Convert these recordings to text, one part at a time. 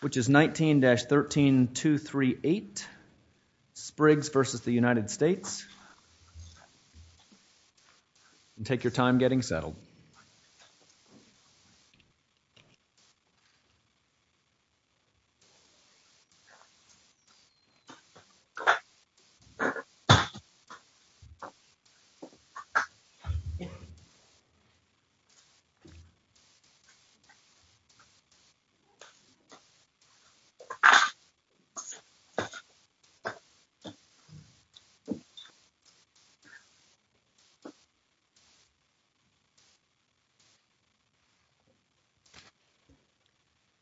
which is 19-13 238 Spriggs versus the United States and take your time getting settled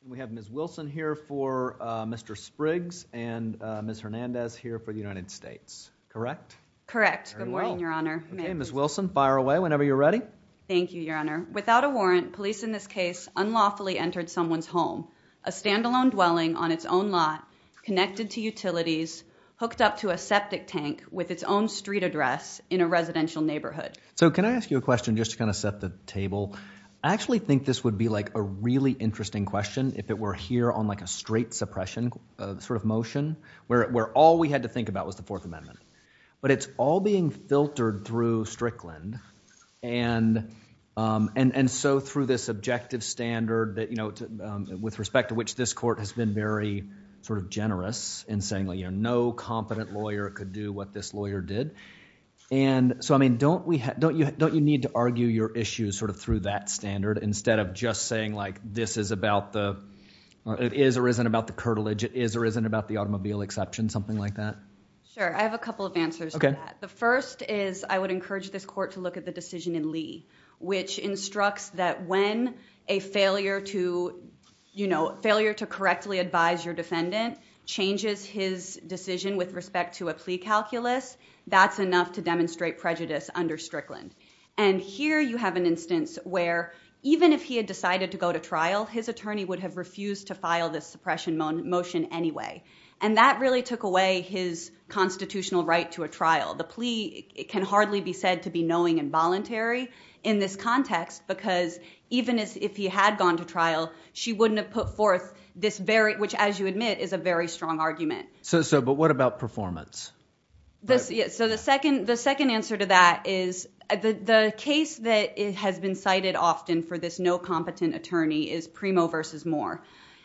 We have Ms. Wilson here for Mr. Spriggs and Ms. Hernandez here for the United States, correct? Correct. Good morning, Your Honor. Ms. Wilson, fire away whenever you're ready. Thank you, Your Honor. Without a warrant, police in this case unlawfully entered someone's home, a standalone dwelling on its own lot, connected to utilities, hooked up to a septic tank with its own street address in a residential neighborhood. So can I ask you a question just to kind of set the table? I actually think this would be like a really interesting question if it were here on like a straight suppression sort of motion where all we had to think about was the Fourth Amendment. But it's all being filtered through Strickland and so through this objective standard with respect to which this court has been very sort of generous in saying no competent lawyer could do what this lawyer did. And so I mean, don't you need to argue your issues sort of through that standard instead of just saying like this is about the, it is or isn't about the curtilage, it is or isn't about the automobile exception, something like that? Sure. I have a couple of answers to that. Okay. The first is I would encourage this court to look at the decision in Lee, which instructs that when a failure to, you know, failure to correctly advise your defendant changes his decision with respect to a plea calculus, that's enough to demonstrate prejudice under Strickland. And here you have an instance where even if he had decided to go to trial, his attorney would have refused to file this suppression motion anyway. And that really took away his constitutional right to a trial. The plea, it can hardly be said to be knowing and voluntary in this context because even as if he had gone to trial, she wouldn't have put forth this very, which as you admit is a very strong argument. So but what about performance? So the second answer to that is the case that has been cited often for this no competent attorney is Primo versus Moore.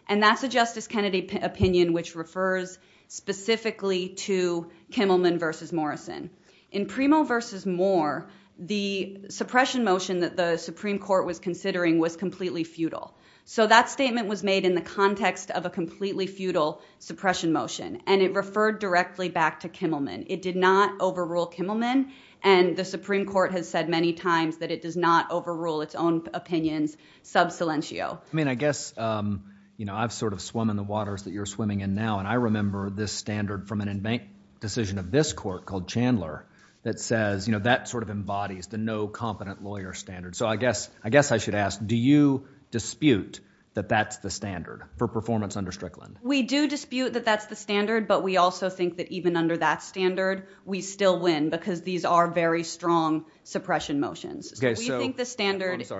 And that's a Justice Kennedy opinion which refers specifically to Kimmelman versus Morrison. In Primo versus Moore, the suppression motion that the Supreme Court was considering was completely futile. So that statement was made in the context of a completely futile suppression motion and it referred directly back to Kimmelman. It did not overrule Kimmelman and the Supreme Court has said many times that it does not overrule its own opinions sub silentio. I mean, I guess, you know, I've sort of swum in the waters that you're swimming in now and I remember this standard from an in bank decision of this court called Chandler that says, you know, that sort of embodies the no competent lawyer standard. So I guess, I guess I should ask, do you dispute that that's the standard for performance under Strickland? We do dispute that that's the standard, but we also think that even under that standard, we still win because these are very strong suppression motions. I'm sorry. I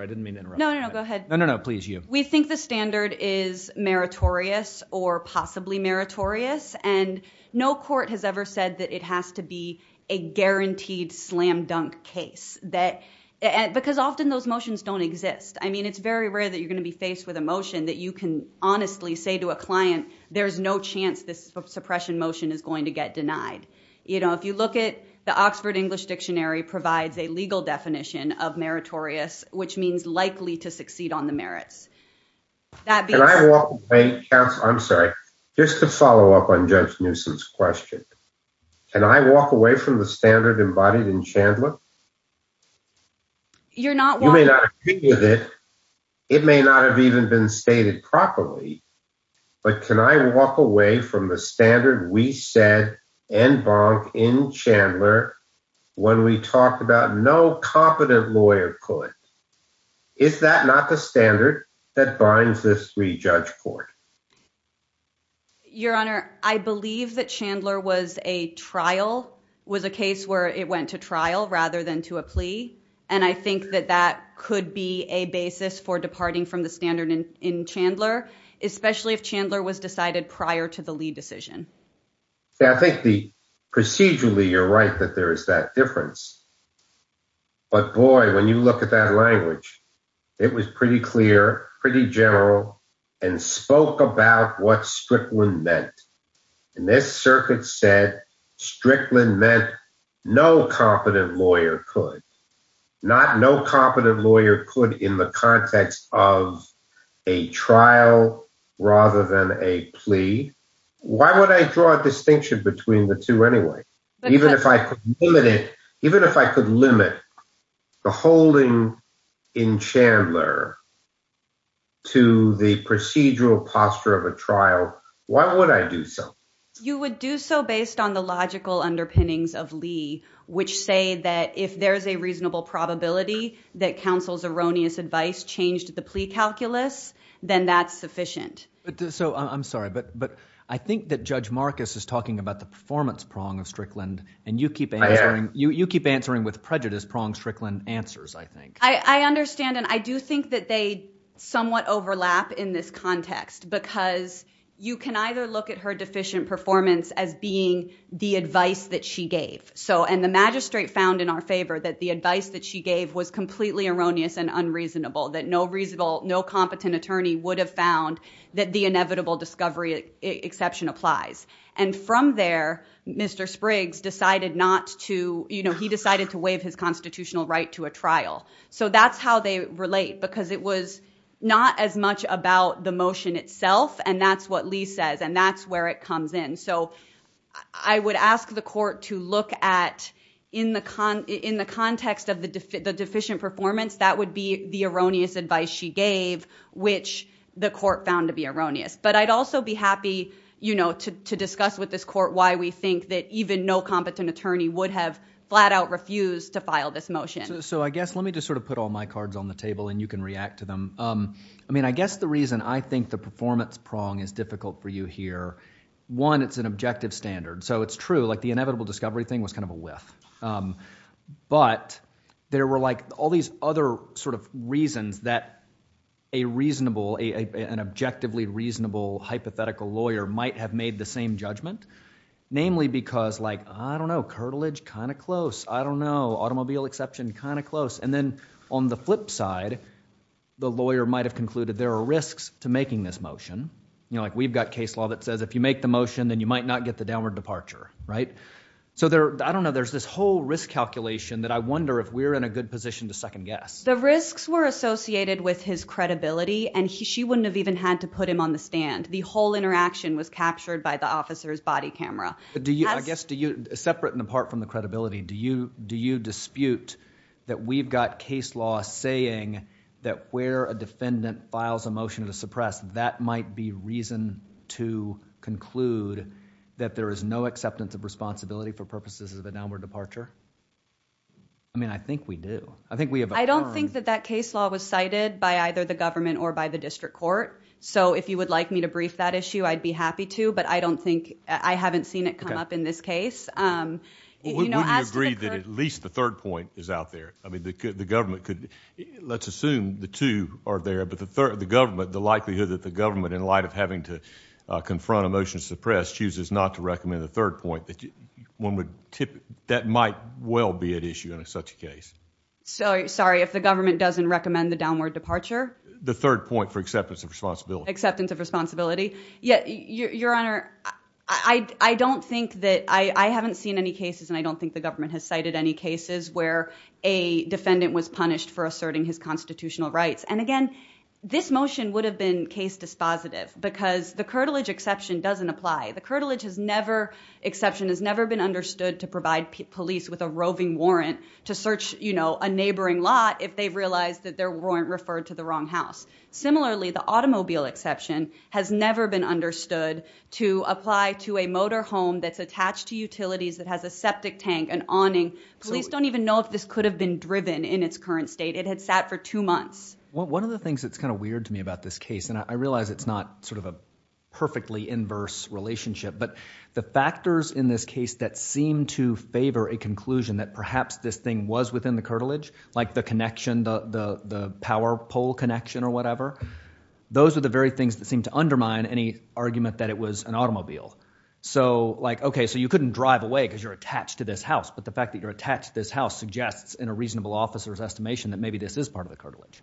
didn't mean to interrupt. No, no, no. Go ahead. No, no, no. Please. You, we think the standard is meritorious or possibly meritorious and no court has ever said that it has to be a guaranteed slam dunk case that because often those motions don't exist. I mean, it's very rare that you're going to be faced with a motion that you can honestly say to a client, there's no chance this suppression motion is going to get denied. You know, if you look at the Oxford English Dictionary provides a legal definition of which means likely to succeed on the merits. Can I walk away? I'm sorry. Just to follow up on Judge Newsom's question, can I walk away from the standard embodied in Chandler? You're not. You may not agree with it. It may not have even been stated properly, but can I walk away from the standard we said and Bonk in Chandler when we talked about no competent lawyer could, is that not the standard that binds this three judge court? Your Honor, I believe that Chandler was a trial, was a case where it went to trial rather than to a plea. And I think that that could be a basis for departing from the standard in Chandler, especially if Chandler was decided prior to the Lee decision. Yeah, I think the procedurally, you're right that there is that difference. But boy, when you look at that language, it was pretty clear, pretty general and spoke about what Strickland meant in this circuit said Strickland meant no competent lawyer could, not no competent lawyer could in the context of a trial rather than a plea. Why would I draw a distinction between the two anyway? Even if I could limit it, even if I could limit the holding in Chandler to the procedural posture of a trial, why would I do so? You would do so based on the logical underpinnings of Lee, which say that if there's a reasonable probability that counsel's erroneous advice changed the plea calculus, then that's sufficient. I'm sorry, but I think that Judge Marcus is talking about the performance prong of Strickland and you keep answering with prejudice prong Strickland answers, I think. I understand and I do think that they somewhat overlap in this context because you can either look at her deficient performance as being the advice that she gave. And the magistrate found in our favor that the advice that she gave was completely erroneous and unreasonable, that no reasonable, no competent attorney would have found that the inevitable discovery exception applies. And from there, Mr. Spriggs decided not to, you know, he decided to waive his constitutional right to a trial. So that's how they relate because it was not as much about the motion itself and that's what Lee says and that's where it comes in. So I would ask the court to look at in the context of the deficient performance, that would be the erroneous advice she gave, which the court found to be erroneous. But I'd also be happy, you know, to discuss with this court why we think that even no competent attorney would have flat out refused to file this motion. So I guess let me just sort of put all my cards on the table and you can react to them. I mean, I guess the reason I think the performance prong is difficult for you here, one, it's an objective standard. So it's true, like the inevitable discovery thing was kind of a whiff. But there were like all these other sort of reasons that a reasonable, an objectively reasonable hypothetical lawyer might have made the same judgment, namely because like, I don't know, curtilage, kind of close. I don't know, automobile exception, kind of close. And then on the flip side, the lawyer might have concluded there are risks to making this motion. You know, like we've got case law that says if you make the motion, then you might not get the downward departure, right? So there, I don't know, there's this whole risk calculation that I wonder if we're in a good position to second guess. The risks were associated with his credibility and she wouldn't have even had to put him on the stand. The whole interaction was captured by the officer's body camera. Do you, I guess, separate and apart from the credibility, do you dispute that we've got case law saying that where a defendant files a motion to suppress, that might be reason to conclude that there is no acceptance of responsibility for purposes of a downward departure? I mean, I think we do. I think we have a- I don't think that that case law was cited by either the government or by the district court. So if you would like me to brief that issue, I'd be happy to, but I don't think, I haven't seen it come up in this case. We wouldn't agree that at least the third point is out there. I mean, the government could, let's assume the two are there, but the third, the government, the likelihood that the government in light of having to confront a motion to suppress chooses not to recommend the third point that one would tip, that might well be at issue in such a case. Sorry, sorry. If the government doesn't recommend the downward departure? The third point for acceptance of responsibility. Acceptance of responsibility. Yeah. Your Honor, I don't think that, I haven't seen any cases and I don't think the government has cited any cases where a defendant was punished for asserting his constitutional rights. And again, this motion would have been case dispositive because the curtilage exception doesn't apply. The curtilage has never, exception has never been understood to provide police with a roving warrant to search, you know, a neighboring lot if they've realized that there weren't referred to the wrong house. Similarly, the automobile exception has never been understood to apply to a motor home that's attached to utilities that has a septic tank and awning. Police don't even know if this could have been driven in its current state. It had sat for two months. One of the things that's kind of weird to me about this case, and I realize it's not sort of a perfectly inverse relationship, but the factors in this case that seem to favor a conclusion that perhaps this thing was within the curtilage, like the connection, the power pole connection or whatever, those are the very things that seem to undermine any argument that it was an automobile. So like, okay, so you couldn't drive away because you're attached to this house, but the fact that you're attached to this house suggests in a reasonable officer's estimation that maybe this is part of the curtilage.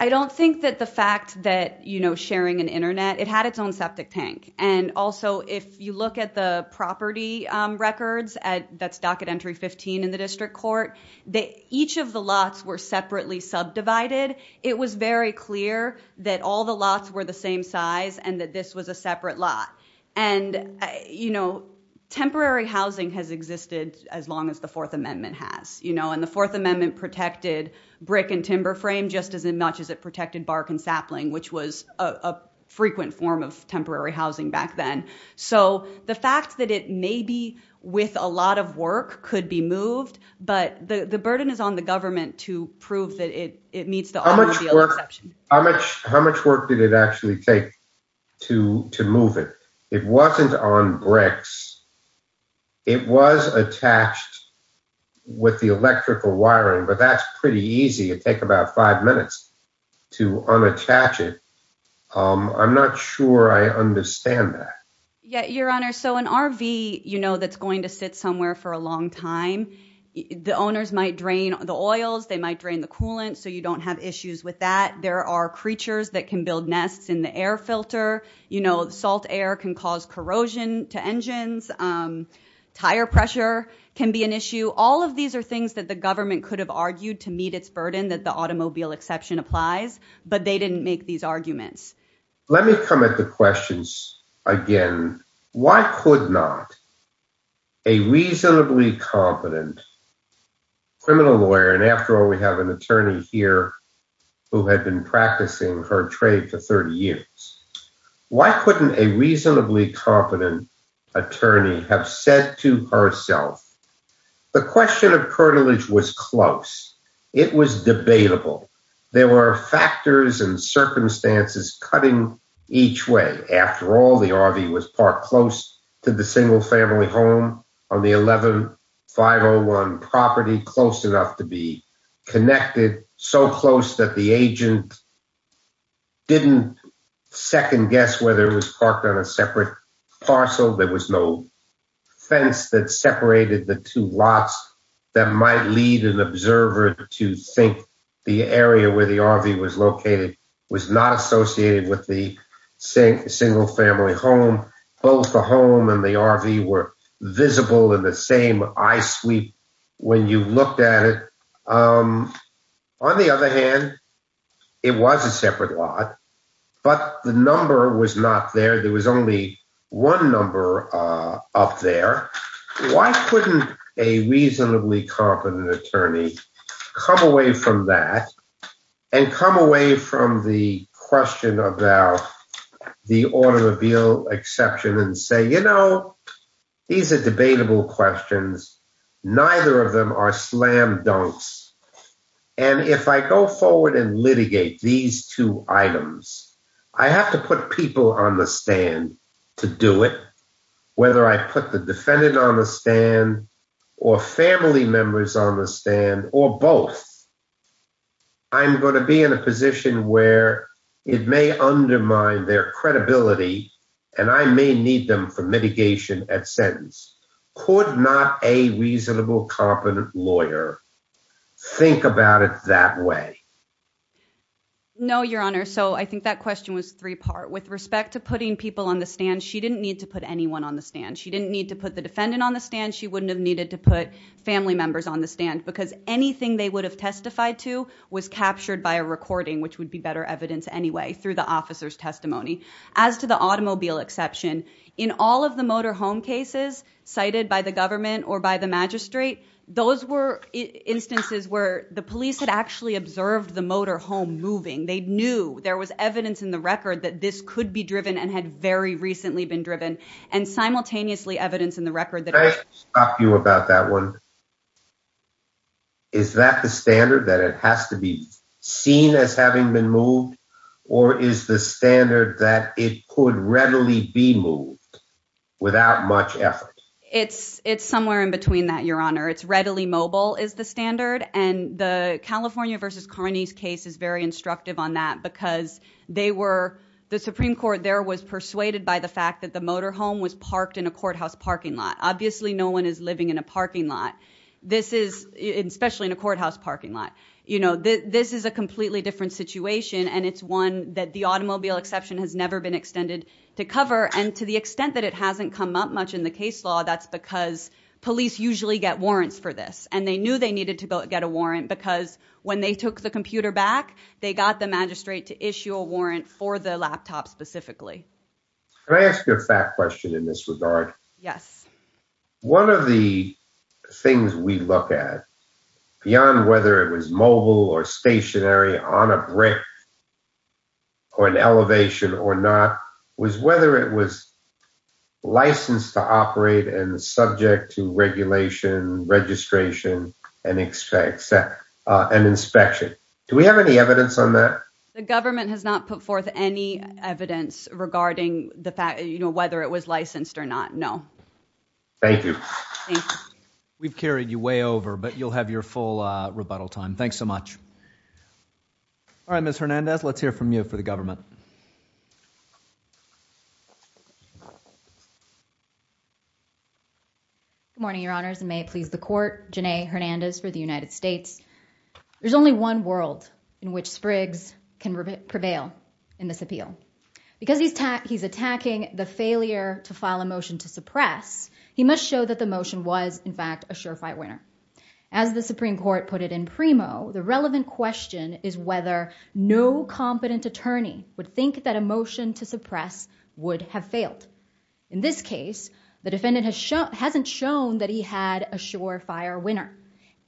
I don't think that the fact that, you know, sharing an internet, it had its own septic tank. And also, if you look at the property records at that's docket entry 15 in the district court, that each of the lots were separately subdivided. It was very clear that all the lots were the same size and that this was a separate lot. And, you know, temporary housing has existed as long as the Fourth Amendment has, you know, and the Fourth Amendment protected brick and timber frame just as much as it protected bark and sapling, which was a frequent form of temporary housing back then. So the fact that it may be with a lot of work could be moved, but the burden is on the government to prove that it meets the automobile exception. How much work did it actually take to move it? It wasn't on bricks. It was attached with the electrical wiring, but that's pretty easy. It takes about five minutes to unattach it. I'm not sure I understand that yet, Your Honor. So an RV, you know, that's going to sit somewhere for a long time. The owners might drain the oils. They might drain the coolant. So you don't have issues with that. There are creatures that can build nests in the air filter. You know, salt air can cause corrosion to engines. Tire pressure can be an issue. All of these are things that the government could have argued to meet its burden that the automobile exception applies, but they didn't make these arguments. Let me come at the questions again. Why could not a reasonably competent criminal lawyer, and after all, we have an attorney here who had been practicing her trade for 30 years. Why couldn't a reasonably competent attorney have said to herself, the question of cartilage was close. It was debatable. There were factors and circumstances cutting each way. After all, the RV was parked close to the single family home on the 11501 property, close enough to be connected, so close that the agent didn't second guess whether it was parked on a separate parcel. There was no fence that separated the two lots that might lead an observer to think the area where the RV was located was not associated with the single family home. Both the home and the RV were visible in the same eye sweep. When you looked at it, on the other hand, it was a separate lot, but the number was not there. There was only one number up there. Why couldn't a reasonably competent attorney come away from that and come away from the question about the automobile exception and say, you know, these are debatable questions, neither of them are slam dunks, and if I go forward and litigate these two items, I have to put people on the stand to do it, whether I put the defendant on the stand or family members on the stand or both. I'm going to be in a position where it may undermine their credibility, and I may need them for mitigation at sentence. Could not a reasonable, competent lawyer think about it that way? No, Your Honor. So I think that question was three-part. With respect to putting people on the stand, she didn't need to put anyone on the stand. She didn't need to put the defendant on the stand. She wouldn't have needed to put family members on the stand because anything they would have testified to was captured by a recording, which would be better evidence anyway through the officer's testimony. As to the automobile exception, in all of the motorhome cases cited by the government or by the magistrate, those were instances where the police had actually observed the motorhome moving. They knew there was evidence in the record that this could be driven and had very recently been driven, and simultaneously evidence in the record that— Can I ask you about that one? Is that the standard, that it has to be seen as having been moved, or is the standard that it could readily be moved without much effort? It's somewhere in between that, Your Honor. It's readily mobile is the standard, and the California v. Carney's case is very instructive on that because the Supreme Court there was persuaded by the fact that the motorhome was parked in a courthouse parking lot. Obviously, no one is living in a parking lot, especially in a courthouse parking lot. This is a completely different situation, and it's one that the automobile exception has never been extended to cover. To the extent that it hasn't come up much in the case law, that's because police usually get warrants for this. They knew they needed to go get a warrant because when they took the computer back, they got the magistrate to issue a warrant for the laptop specifically. Can I ask you a fact question in this regard? Yes. One of the things we look at, beyond whether it was mobile or stationary on a brick or elevation or not, was whether it was licensed to operate and subject to regulation, registration, and inspection. Do we have any evidence on that? The government has not put forth any evidence regarding whether it was licensed or not. No. Thank you. We've carried you way over, but you'll have your full rebuttal time. Thanks so much. All right, Ms. Hernandez, let's hear from you for the government. Good morning, your honors. May it please the court. Janae Hernandez for the United States. There's only one world in which Spriggs can prevail in this appeal. Because he's attacking the failure to file a motion to suppress, he must show that the motion was, in fact, a sure-fight winner. As the Supreme Court put it in primo, the relevant question is whether no competent attorney would think that a motion to suppress would have failed. In this case, the defendant hasn't shown that he had a sure-fire winner.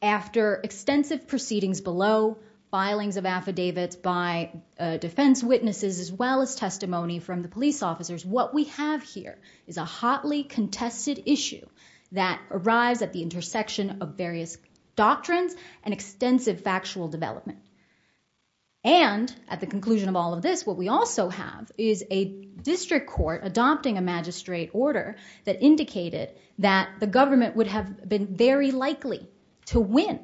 After extensive proceedings below, filings of affidavits by defense witnesses, as well as testimony from the police officers, what we have here is a hotly contested issue that arrives at the intersection of various doctrines and extensive factual development. And at the conclusion of all of this, what we also have is a district court adopting a magistrate order that indicated that the government would have been very likely to win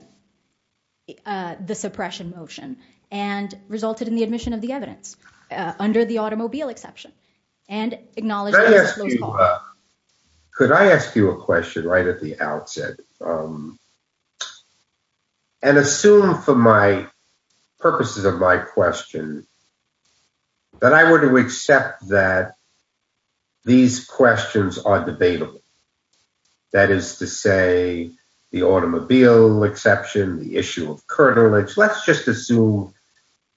the suppression motion and resulted in the admission of the evidence, under the automobile exception, and acknowledged that it was a close call. Could I ask you a question right at the outset? And assume, for the purposes of my question, that I were to accept that these questions are debatable. That is to say, the automobile exception, the issue of cartilage, let's just assume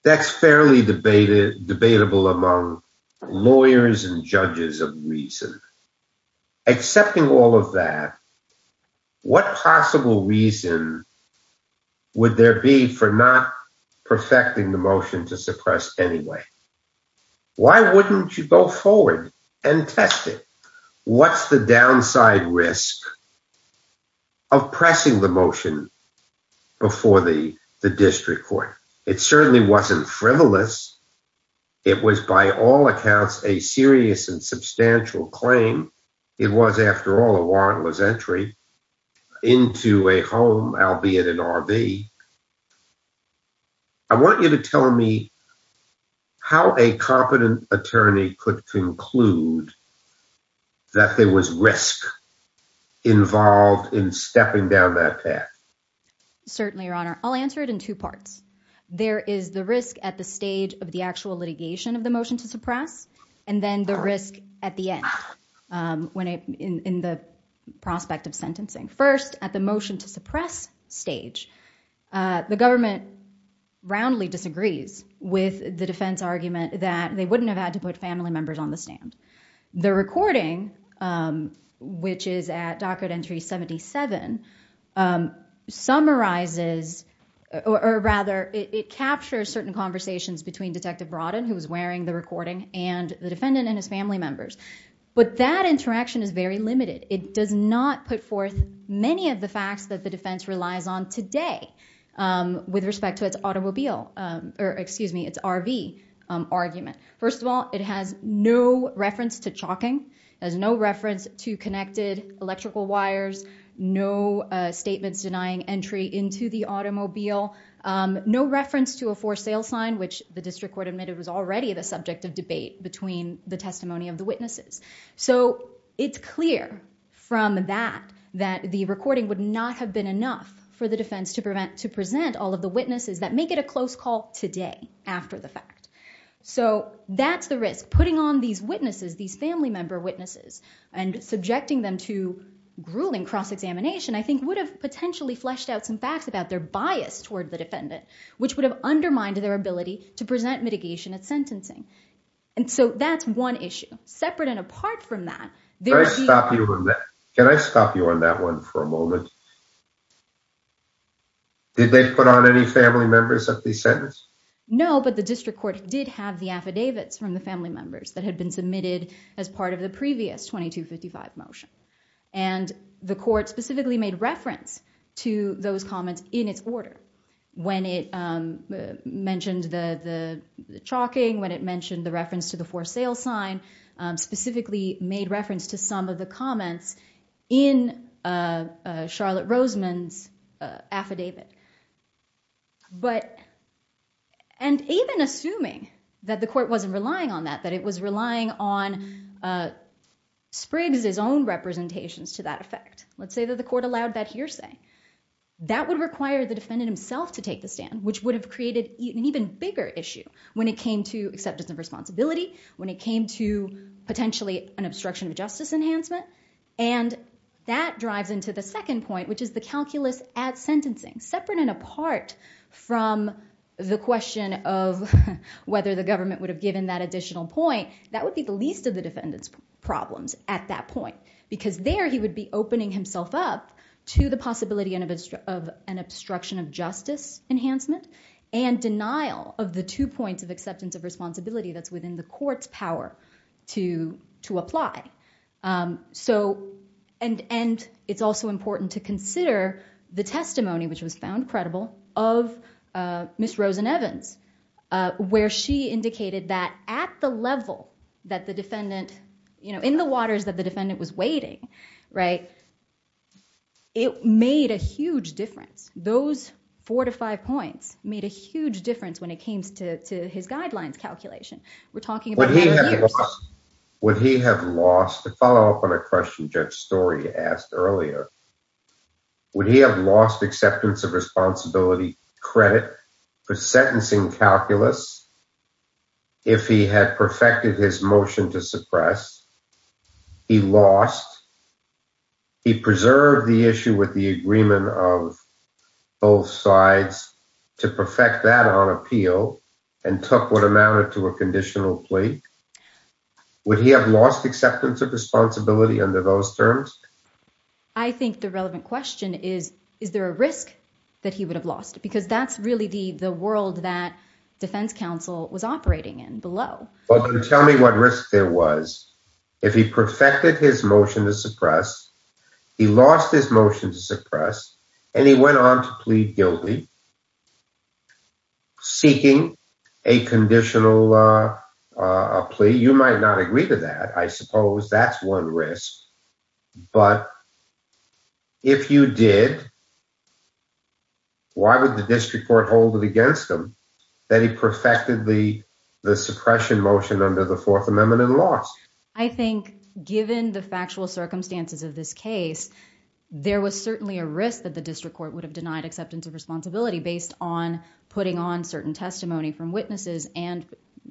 that's fairly debatable among lawyers and judges of reason. Accepting all of that, what possible reason would there be for not perfecting the motion to suppress anyway? Why wouldn't you go forward and test it? What's the downside risk of pressing the motion before the district court? It certainly wasn't frivolous. It was, by all accounts, a serious and substantial claim. It was, after all, a warrantless entry into a home, albeit an RV. I want you to tell me how a competent attorney could conclude that there was risk involved in stepping down that path. Certainly, Your Honor. I'll answer it in two parts. There is the risk at the stage of the actual litigation of the motion to suppress, and then the risk at the end, in the prospect of sentencing. First, at the motion to suppress stage, the government roundly disagrees with the defense argument that they wouldn't have had to put family members on the stand. The recording, which is at docket entry 77, summarizes, or rather, it captures certain conversations between Detective Brodden, who was wearing the recording, and the defendant and his family members. But that interaction is very limited. It does not put forth many of the facts that the defense relies on today with respect to its RV argument. First of all, it has no reference to chalking. There's no reference to connected electrical wires, no statements denying entry into the automobile, no reference to a for sale sign, which the district court admitted was already the subject of debate between the testimony of the witnesses. It's clear from that that the recording would not have been enough for the defense to present all of the witnesses that make it a close call today after the fact. That's the risk. Putting on these witnesses, these family member witnesses, and subjecting them to grueling cross-examination, I think, would have potentially fleshed out some facts about their bias toward the defendant, which would have undermined their ability to present mitigation at sentencing. That's one issue. Separate and apart from that, there would be- Can I stop you on that? Can I stop you on that one for a moment? Did they put on any family members at the sentence? No, but the district court did have the affidavits from the family members that had been submitted as part of the previous 2255 motion. The court specifically made reference to those comments in its order. When it mentioned the chalking, when it mentioned the reference to the for sale sign, specifically made reference to some of the comments in Charlotte Roseman's affidavit. But, and even assuming that the court wasn't relying on that, that it was relying on Spriggs' own representations to that effect, let's say that the court allowed that hearsay, that would require the defendant himself to take the stand, which would have created an even bigger issue when it came to acceptance of responsibility, when it came to potentially an obstruction of justice enhancement, and that drives into the second point, which is the calculus at sentencing, separate and apart from the question of whether the government would have given that additional point, that would be the least of the defendant's problems at that point, because there he would be opening himself up to the possibility of an obstruction of justice enhancement and denial of the two points of acceptance of responsibility that's within the court's power to apply. So, and it's also important to consider the testimony, which was found credible, of Ms. Rosen-Evans, where she indicated that at the level that the defendant, you know, in the waters that the defendant was wading, right, it made a huge difference. Those four to five points made a huge difference when it came to his guidelines calculation. We're talking about- Would he have lost, to follow up on a question Judge Story asked earlier, would he have lost acceptance of responsibility credit for sentencing calculus if he had perfected his motion to suppress? He lost. He preserved the issue with the agreement of both sides to perfect that on appeal and took what amounted to a conditional plea. Would he have lost acceptance of responsibility under those terms? I think the relevant question is, is there a risk that he would have lost? Because that's really the world that defense counsel was operating in below. But then tell me what risk there was. If he perfected his motion to suppress, he lost his motion to suppress, and he went on to plead guilty, seeking a conditional plea. You might not agree to that. I suppose that's one risk. But if you did, why would the district court hold it against him that he perfected the suppression motion under the Fourth Amendment and lost? I think given the factual circumstances of this case, there was certainly a risk that the district court would have denied acceptance of responsibility based on putting on certain testimony from witnesses and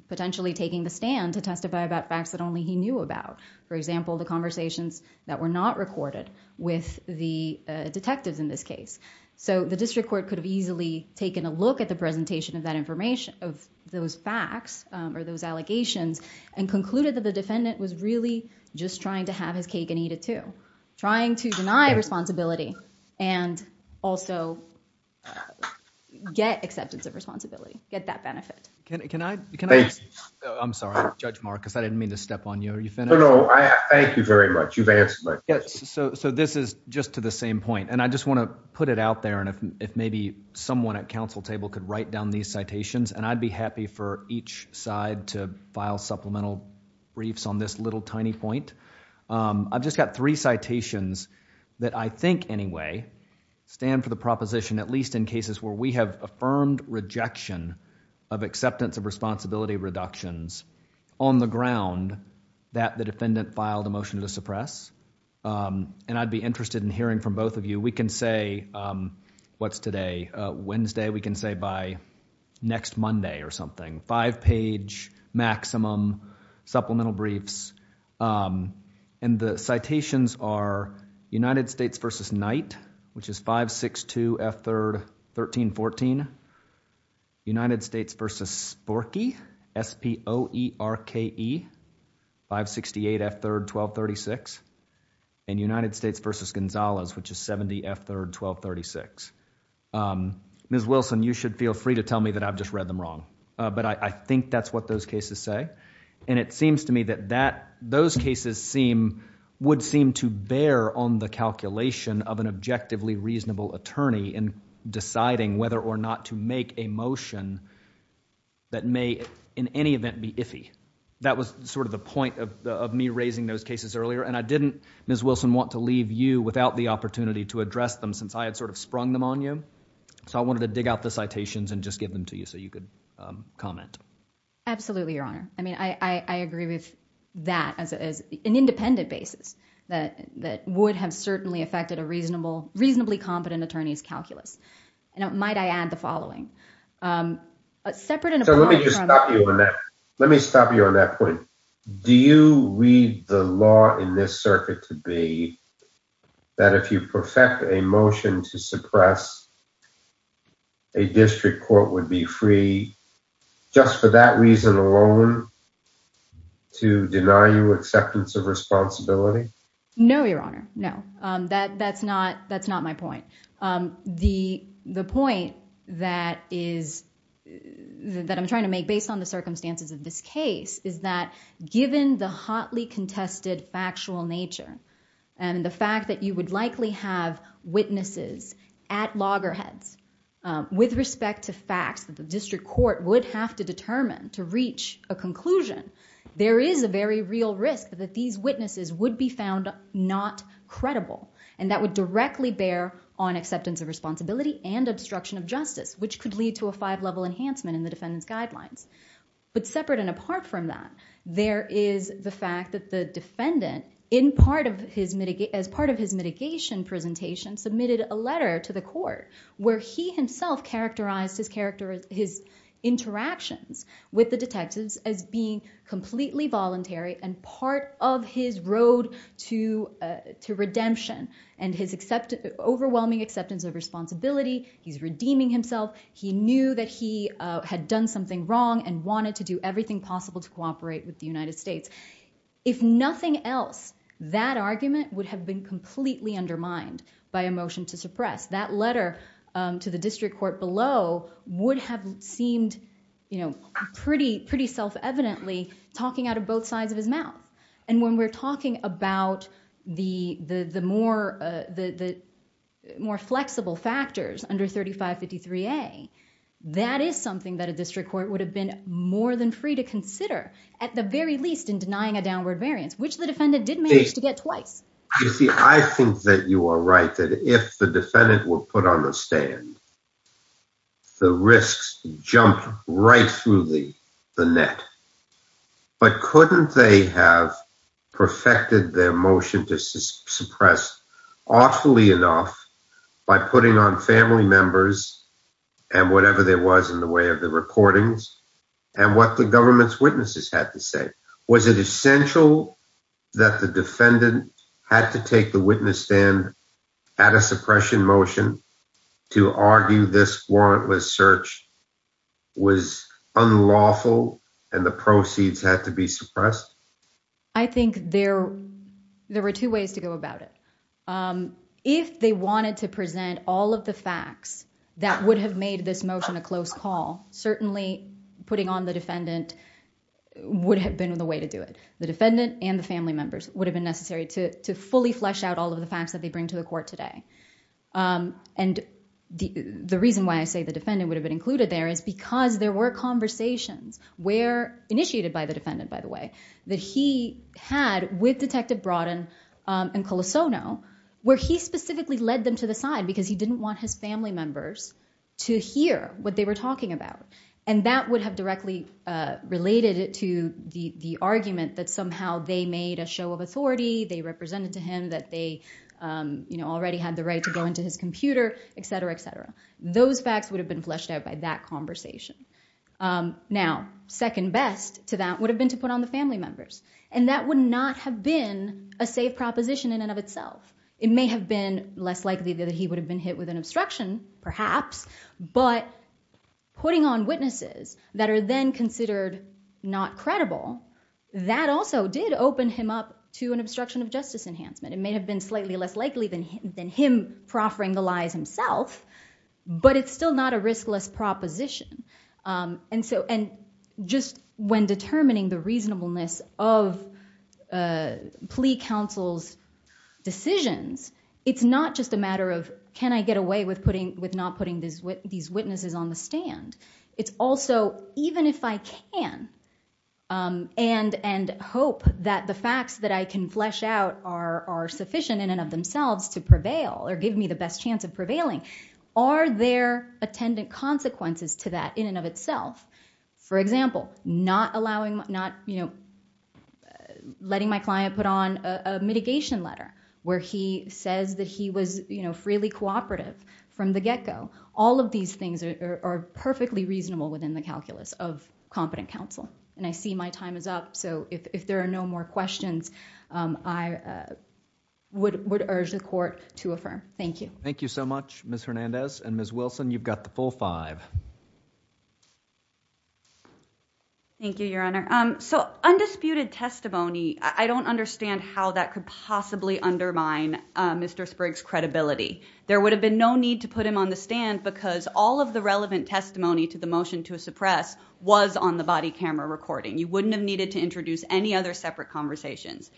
potentially taking the stand to testify about facts that only he knew about. For example, the conversations that were not recorded with the detectives in this case. So the district court could have easily taken a look at the presentation of that information, of those facts or those allegations, and concluded that the defendant was really just trying to have his cake and eat it too. Trying to deny responsibility and also get acceptance of responsibility, get that benefit. Thank you. I'm sorry, Judge Marcus. I didn't mean to step on you. Are you finished? No, no. Thank you very much. You've answered my question. So this is just to the same point. And I just want to put it out there. And if maybe someone at counsel table could write down these citations, and I'd be happy for each side to file supplemental briefs on this little tiny point. I've just got three citations that I think anyway stand for the proposition, at least in cases where we have affirmed rejection of acceptance of responsibility reductions on the ground that the defendant filed a motion to suppress. And I'd be interested in hearing from both of you. We can say, what's today? Wednesday. We can say by next Monday or something. Five page maximum supplemental briefs. And the citations are United States versus Knight, which is 562 F3rd 1314. United States versus Sporke, S-P-O-E-R-K-E, 568 F3rd 1236. And United States versus Gonzalez, which is 70 F3rd 1236. Ms. Wilson, you should feel free to tell me that I've just read them wrong. But I think that's what those cases say. And it seems to me that those cases would seem to bear on the calculation of an objectively reasonable attorney in deciding whether or not to make a motion that may in any event be iffy. That was sort of the point of me raising those cases earlier. And I didn't, Ms. Wilson, want to leave you without the opportunity to address them since I had sort of sprung them on you. So I wanted to dig out the citations and just give them to you so you could comment. Absolutely, Your Honor. I mean, I agree with that as an independent basis that would have certainly affected a reasonably competent attorney's calculus. And might I add the following. Separate and apart from that- So let me just stop you on that. Let me stop you on that point. Do you read the law in this circuit to be that if you perfect a motion to suppress a district court would be free just for that reason alone to deny you acceptance of responsibility? No, Your Honor. No, that's not my point. The point that I'm trying to make based on the circumstances of this case is that given the hotly contested factual nature and the fact that you would likely have witnesses at loggerheads with respect to facts that the district court would have to determine to reach a conclusion, there is a very real risk that these witnesses would be found not credible. And that would directly bear on acceptance of responsibility and obstruction of justice, which could lead to a five-level enhancement in the defendant's guidelines. But separate and apart from that, there is the fact that the defendant, as part of his letter to the court, where he himself characterized his interactions with the detectives as being completely voluntary and part of his road to redemption and his overwhelming acceptance of responsibility. He's redeeming himself. He knew that he had done something wrong and wanted to do everything possible to cooperate with the United States. If nothing else, that argument would have been completely undermined by a motion to suppress. That letter to the district court below would have seemed pretty self-evidently talking out of both sides of his mouth. And when we're talking about the more flexible factors under 3553A, that is something that at the very least in denying a downward variance, which the defendant did manage to get twice. You see, I think that you are right, that if the defendant were put on the stand, the risks jumped right through the net. But couldn't they have perfected their motion to suppress awfully enough by putting on and whatever there was in the way of the recordings and what the government's witnesses had to say? Was it essential that the defendant had to take the witness stand at a suppression motion to argue this warrantless search was unlawful and the proceeds had to be suppressed? I think there were two ways to go about it. If they wanted to present all of the facts that would have made this motion a close call, certainly putting on the defendant would have been the way to do it. The defendant and the family members would have been necessary to fully flesh out all of the facts that they bring to the court today. And the reason why I say the defendant would have been included there is because there were conversations where, initiated by the defendant by the way, that he had with where he specifically led them to the side because he didn't want his family members to hear what they were talking about. And that would have directly related it to the argument that somehow they made a show of authority, they represented to him that they already had the right to go into his computer, et cetera, et cetera. Those facts would have been fleshed out by that conversation. Now, second best to that would have been to put on the family members. And that would not have been a safe proposition in and of itself. It may have been less likely that he would have been hit with an obstruction, perhaps, but putting on witnesses that are then considered not credible, that also did open him up to an obstruction of justice enhancement. It may have been slightly less likely than him proffering the lies himself, but it's still not a riskless proposition. And just when determining the reasonableness of plea counsel's decisions, it's not just a matter of, can I get away with not putting these witnesses on the stand? It's also, even if I can and hope that the facts that I can flesh out are sufficient in and of themselves to prevail or give me the best chance of prevailing, are there attendant consequences to that in and of itself? For example, not allowing, not, you know, letting my client put on a mitigation letter where he says that he was, you know, freely cooperative from the get-go. All of these things are perfectly reasonable within the calculus of competent counsel. And I see my time is up. So if there are no more questions, I would urge the court to affirm. Thank you. Thank you so much, Ms. Hernandez. And Ms. Wilson, you've got the full five. Thank you, Your Honor. So undisputed testimony, I don't understand how that could possibly undermine Mr. Spriggs' credibility. There would have been no need to put him on the stand because all of the relevant testimony to the motion to suppress was on the body camera recording. You wouldn't have needed to introduce any other separate conversations.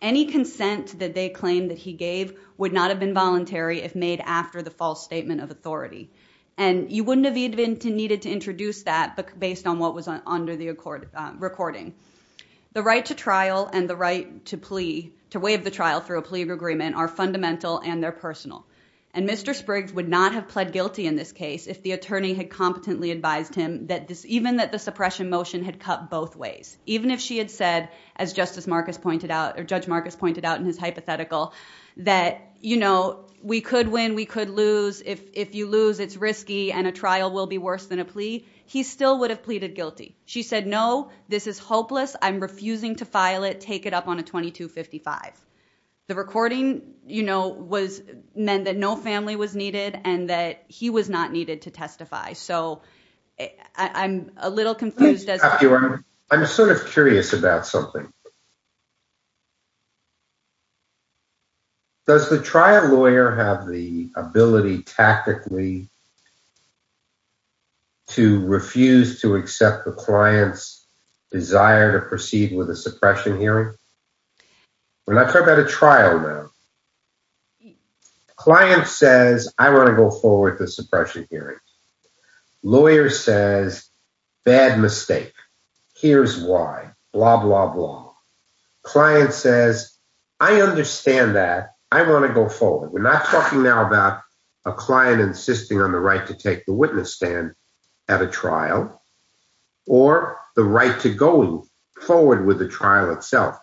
Any consent that they claim that he gave would not have been voluntary if made after the false statement of authority. And you wouldn't have even needed to introduce that based on what was under the recording. The right to trial and the right to plea, to waive the trial through a plea agreement are fundamental and they're personal. And Mr. Spriggs would not have pled guilty in this case if the attorney had competently advised him that this, even that the suppression motion had cut both ways. Even if she had said, as Justice Marcus pointed out, or Judge Marcus pointed out in his hypothetical that, you know, we could win, we could lose. If you lose, it's risky and a trial will be worse than a plea. He still would have pleaded guilty. She said, no, this is hopeless. I'm refusing to file it. Take it up on a 2255. The recording, you know, was meant that no family was needed and that he was not needed to testify. So I'm a little confused. I'm sort of curious about something. Does the trial lawyer have the ability tactically to refuse to accept the client's desire to proceed with a suppression hearing? We're not talking about a trial now. Client says, I want to go forward to suppression hearing. Lawyer says, bad mistake. Here's why. Blah, blah, blah. Client says, I understand that. I want to go forward. We're not talking now about a client insisting on the right to take the witness stand at a trial or the right to go forward with the trial itself.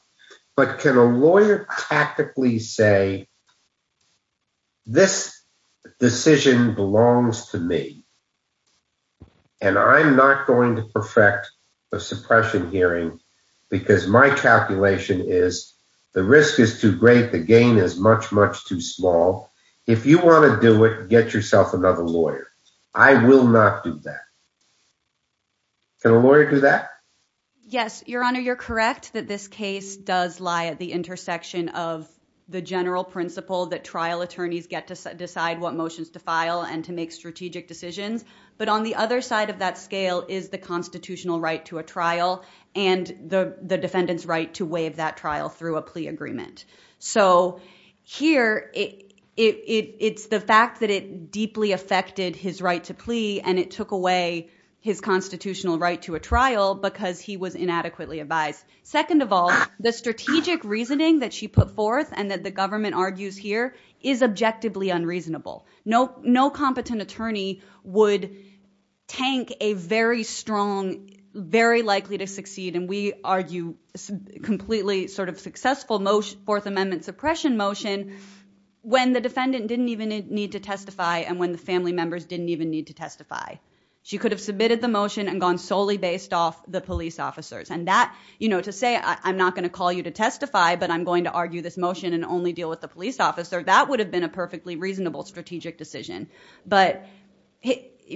But can a lawyer tactically say, this decision belongs to me? And I'm not going to perfect the suppression hearing because my calculation is the risk is too great. The gain is much, much too small. If you want to do it, get yourself another lawyer. I will not do that. Can a lawyer do that? Yes, Your Honor, you're correct that this case does lie at the intersection of the general principle that trial attorneys get to decide what motions to file and to make strategic decisions. But on the other side of that scale is the constitutional right to a trial and the defendant's right to waive that trial through a plea agreement. So here, it's the fact that it deeply affected his right to plea and it took away his constitutional right to a trial because he was inadequately advised. Second of all, the strategic reasoning that she put forth and that the government argues here is objectively unreasonable. No competent attorney would tank a very strong, very likely to succeed, and we argue completely sort of successful motion, Fourth Amendment suppression motion, when the defendant didn't even need to testify and when the family members didn't even need to testify. She could have submitted the motion and gone solely based off the police officers. And that, to say, I'm not going to call you to testify, but I'm going to argue this motion and only deal with the police officer, that would have been a perfectly reasonable strategic decision. But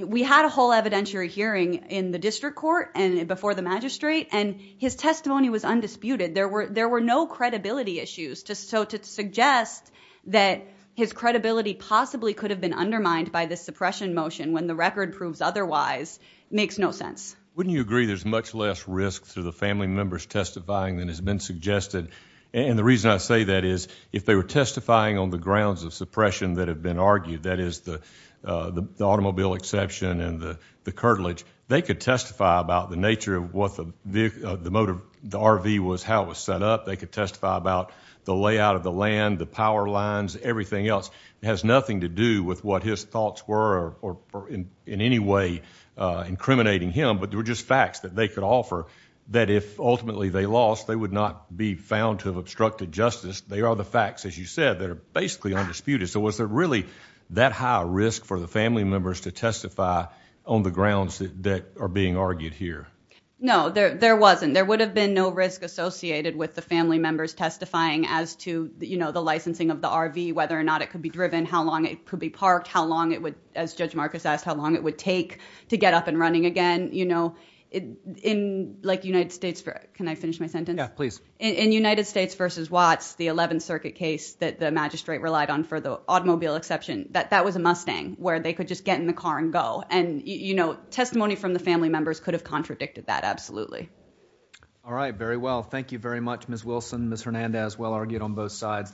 we had a whole evidentiary hearing in the district court and before the magistrate, and his testimony was undisputed. There were no credibility issues, so to suggest that his credibility possibly could have been undermined by this suppression motion when the record proves otherwise makes no sense. Wouldn't you agree there's much less risk through the family members testifying than has been suggested? And the reason I say that is if they were testifying on the grounds of suppression that have been argued, that is the automobile exception and the curtilage, they could testify about the nature of what the motor, the RV was, how it was set up. They could testify about the layout of the land, the power lines, everything else. It has nothing to do with what his thoughts were or in any way incriminating him, but there were just facts that they could offer that if ultimately they lost, they would not be found to have obstructed justice. They are the facts, as you said, that are basically undisputed. So was there really that high a risk for the family members to testify on the grounds that are being argued here? No, there wasn't. There would have been no risk associated with the family members testifying as to the licensing of the RV, whether or not it could be driven, how long it could be parked, how long it would, as Judge Marcus asked, how long it would take to get up and running again. In the United States, can I finish my sentence? In United States versus Watts, the 11th circuit case that the magistrate relied on for the automobile exception, that was a Mustang where they could just get in the car and go. Testimony from the family members could have contradicted that, absolutely. All right, very well. Thank you very much, Ms. Wilson. Ms. Hernandez, well argued on both sides.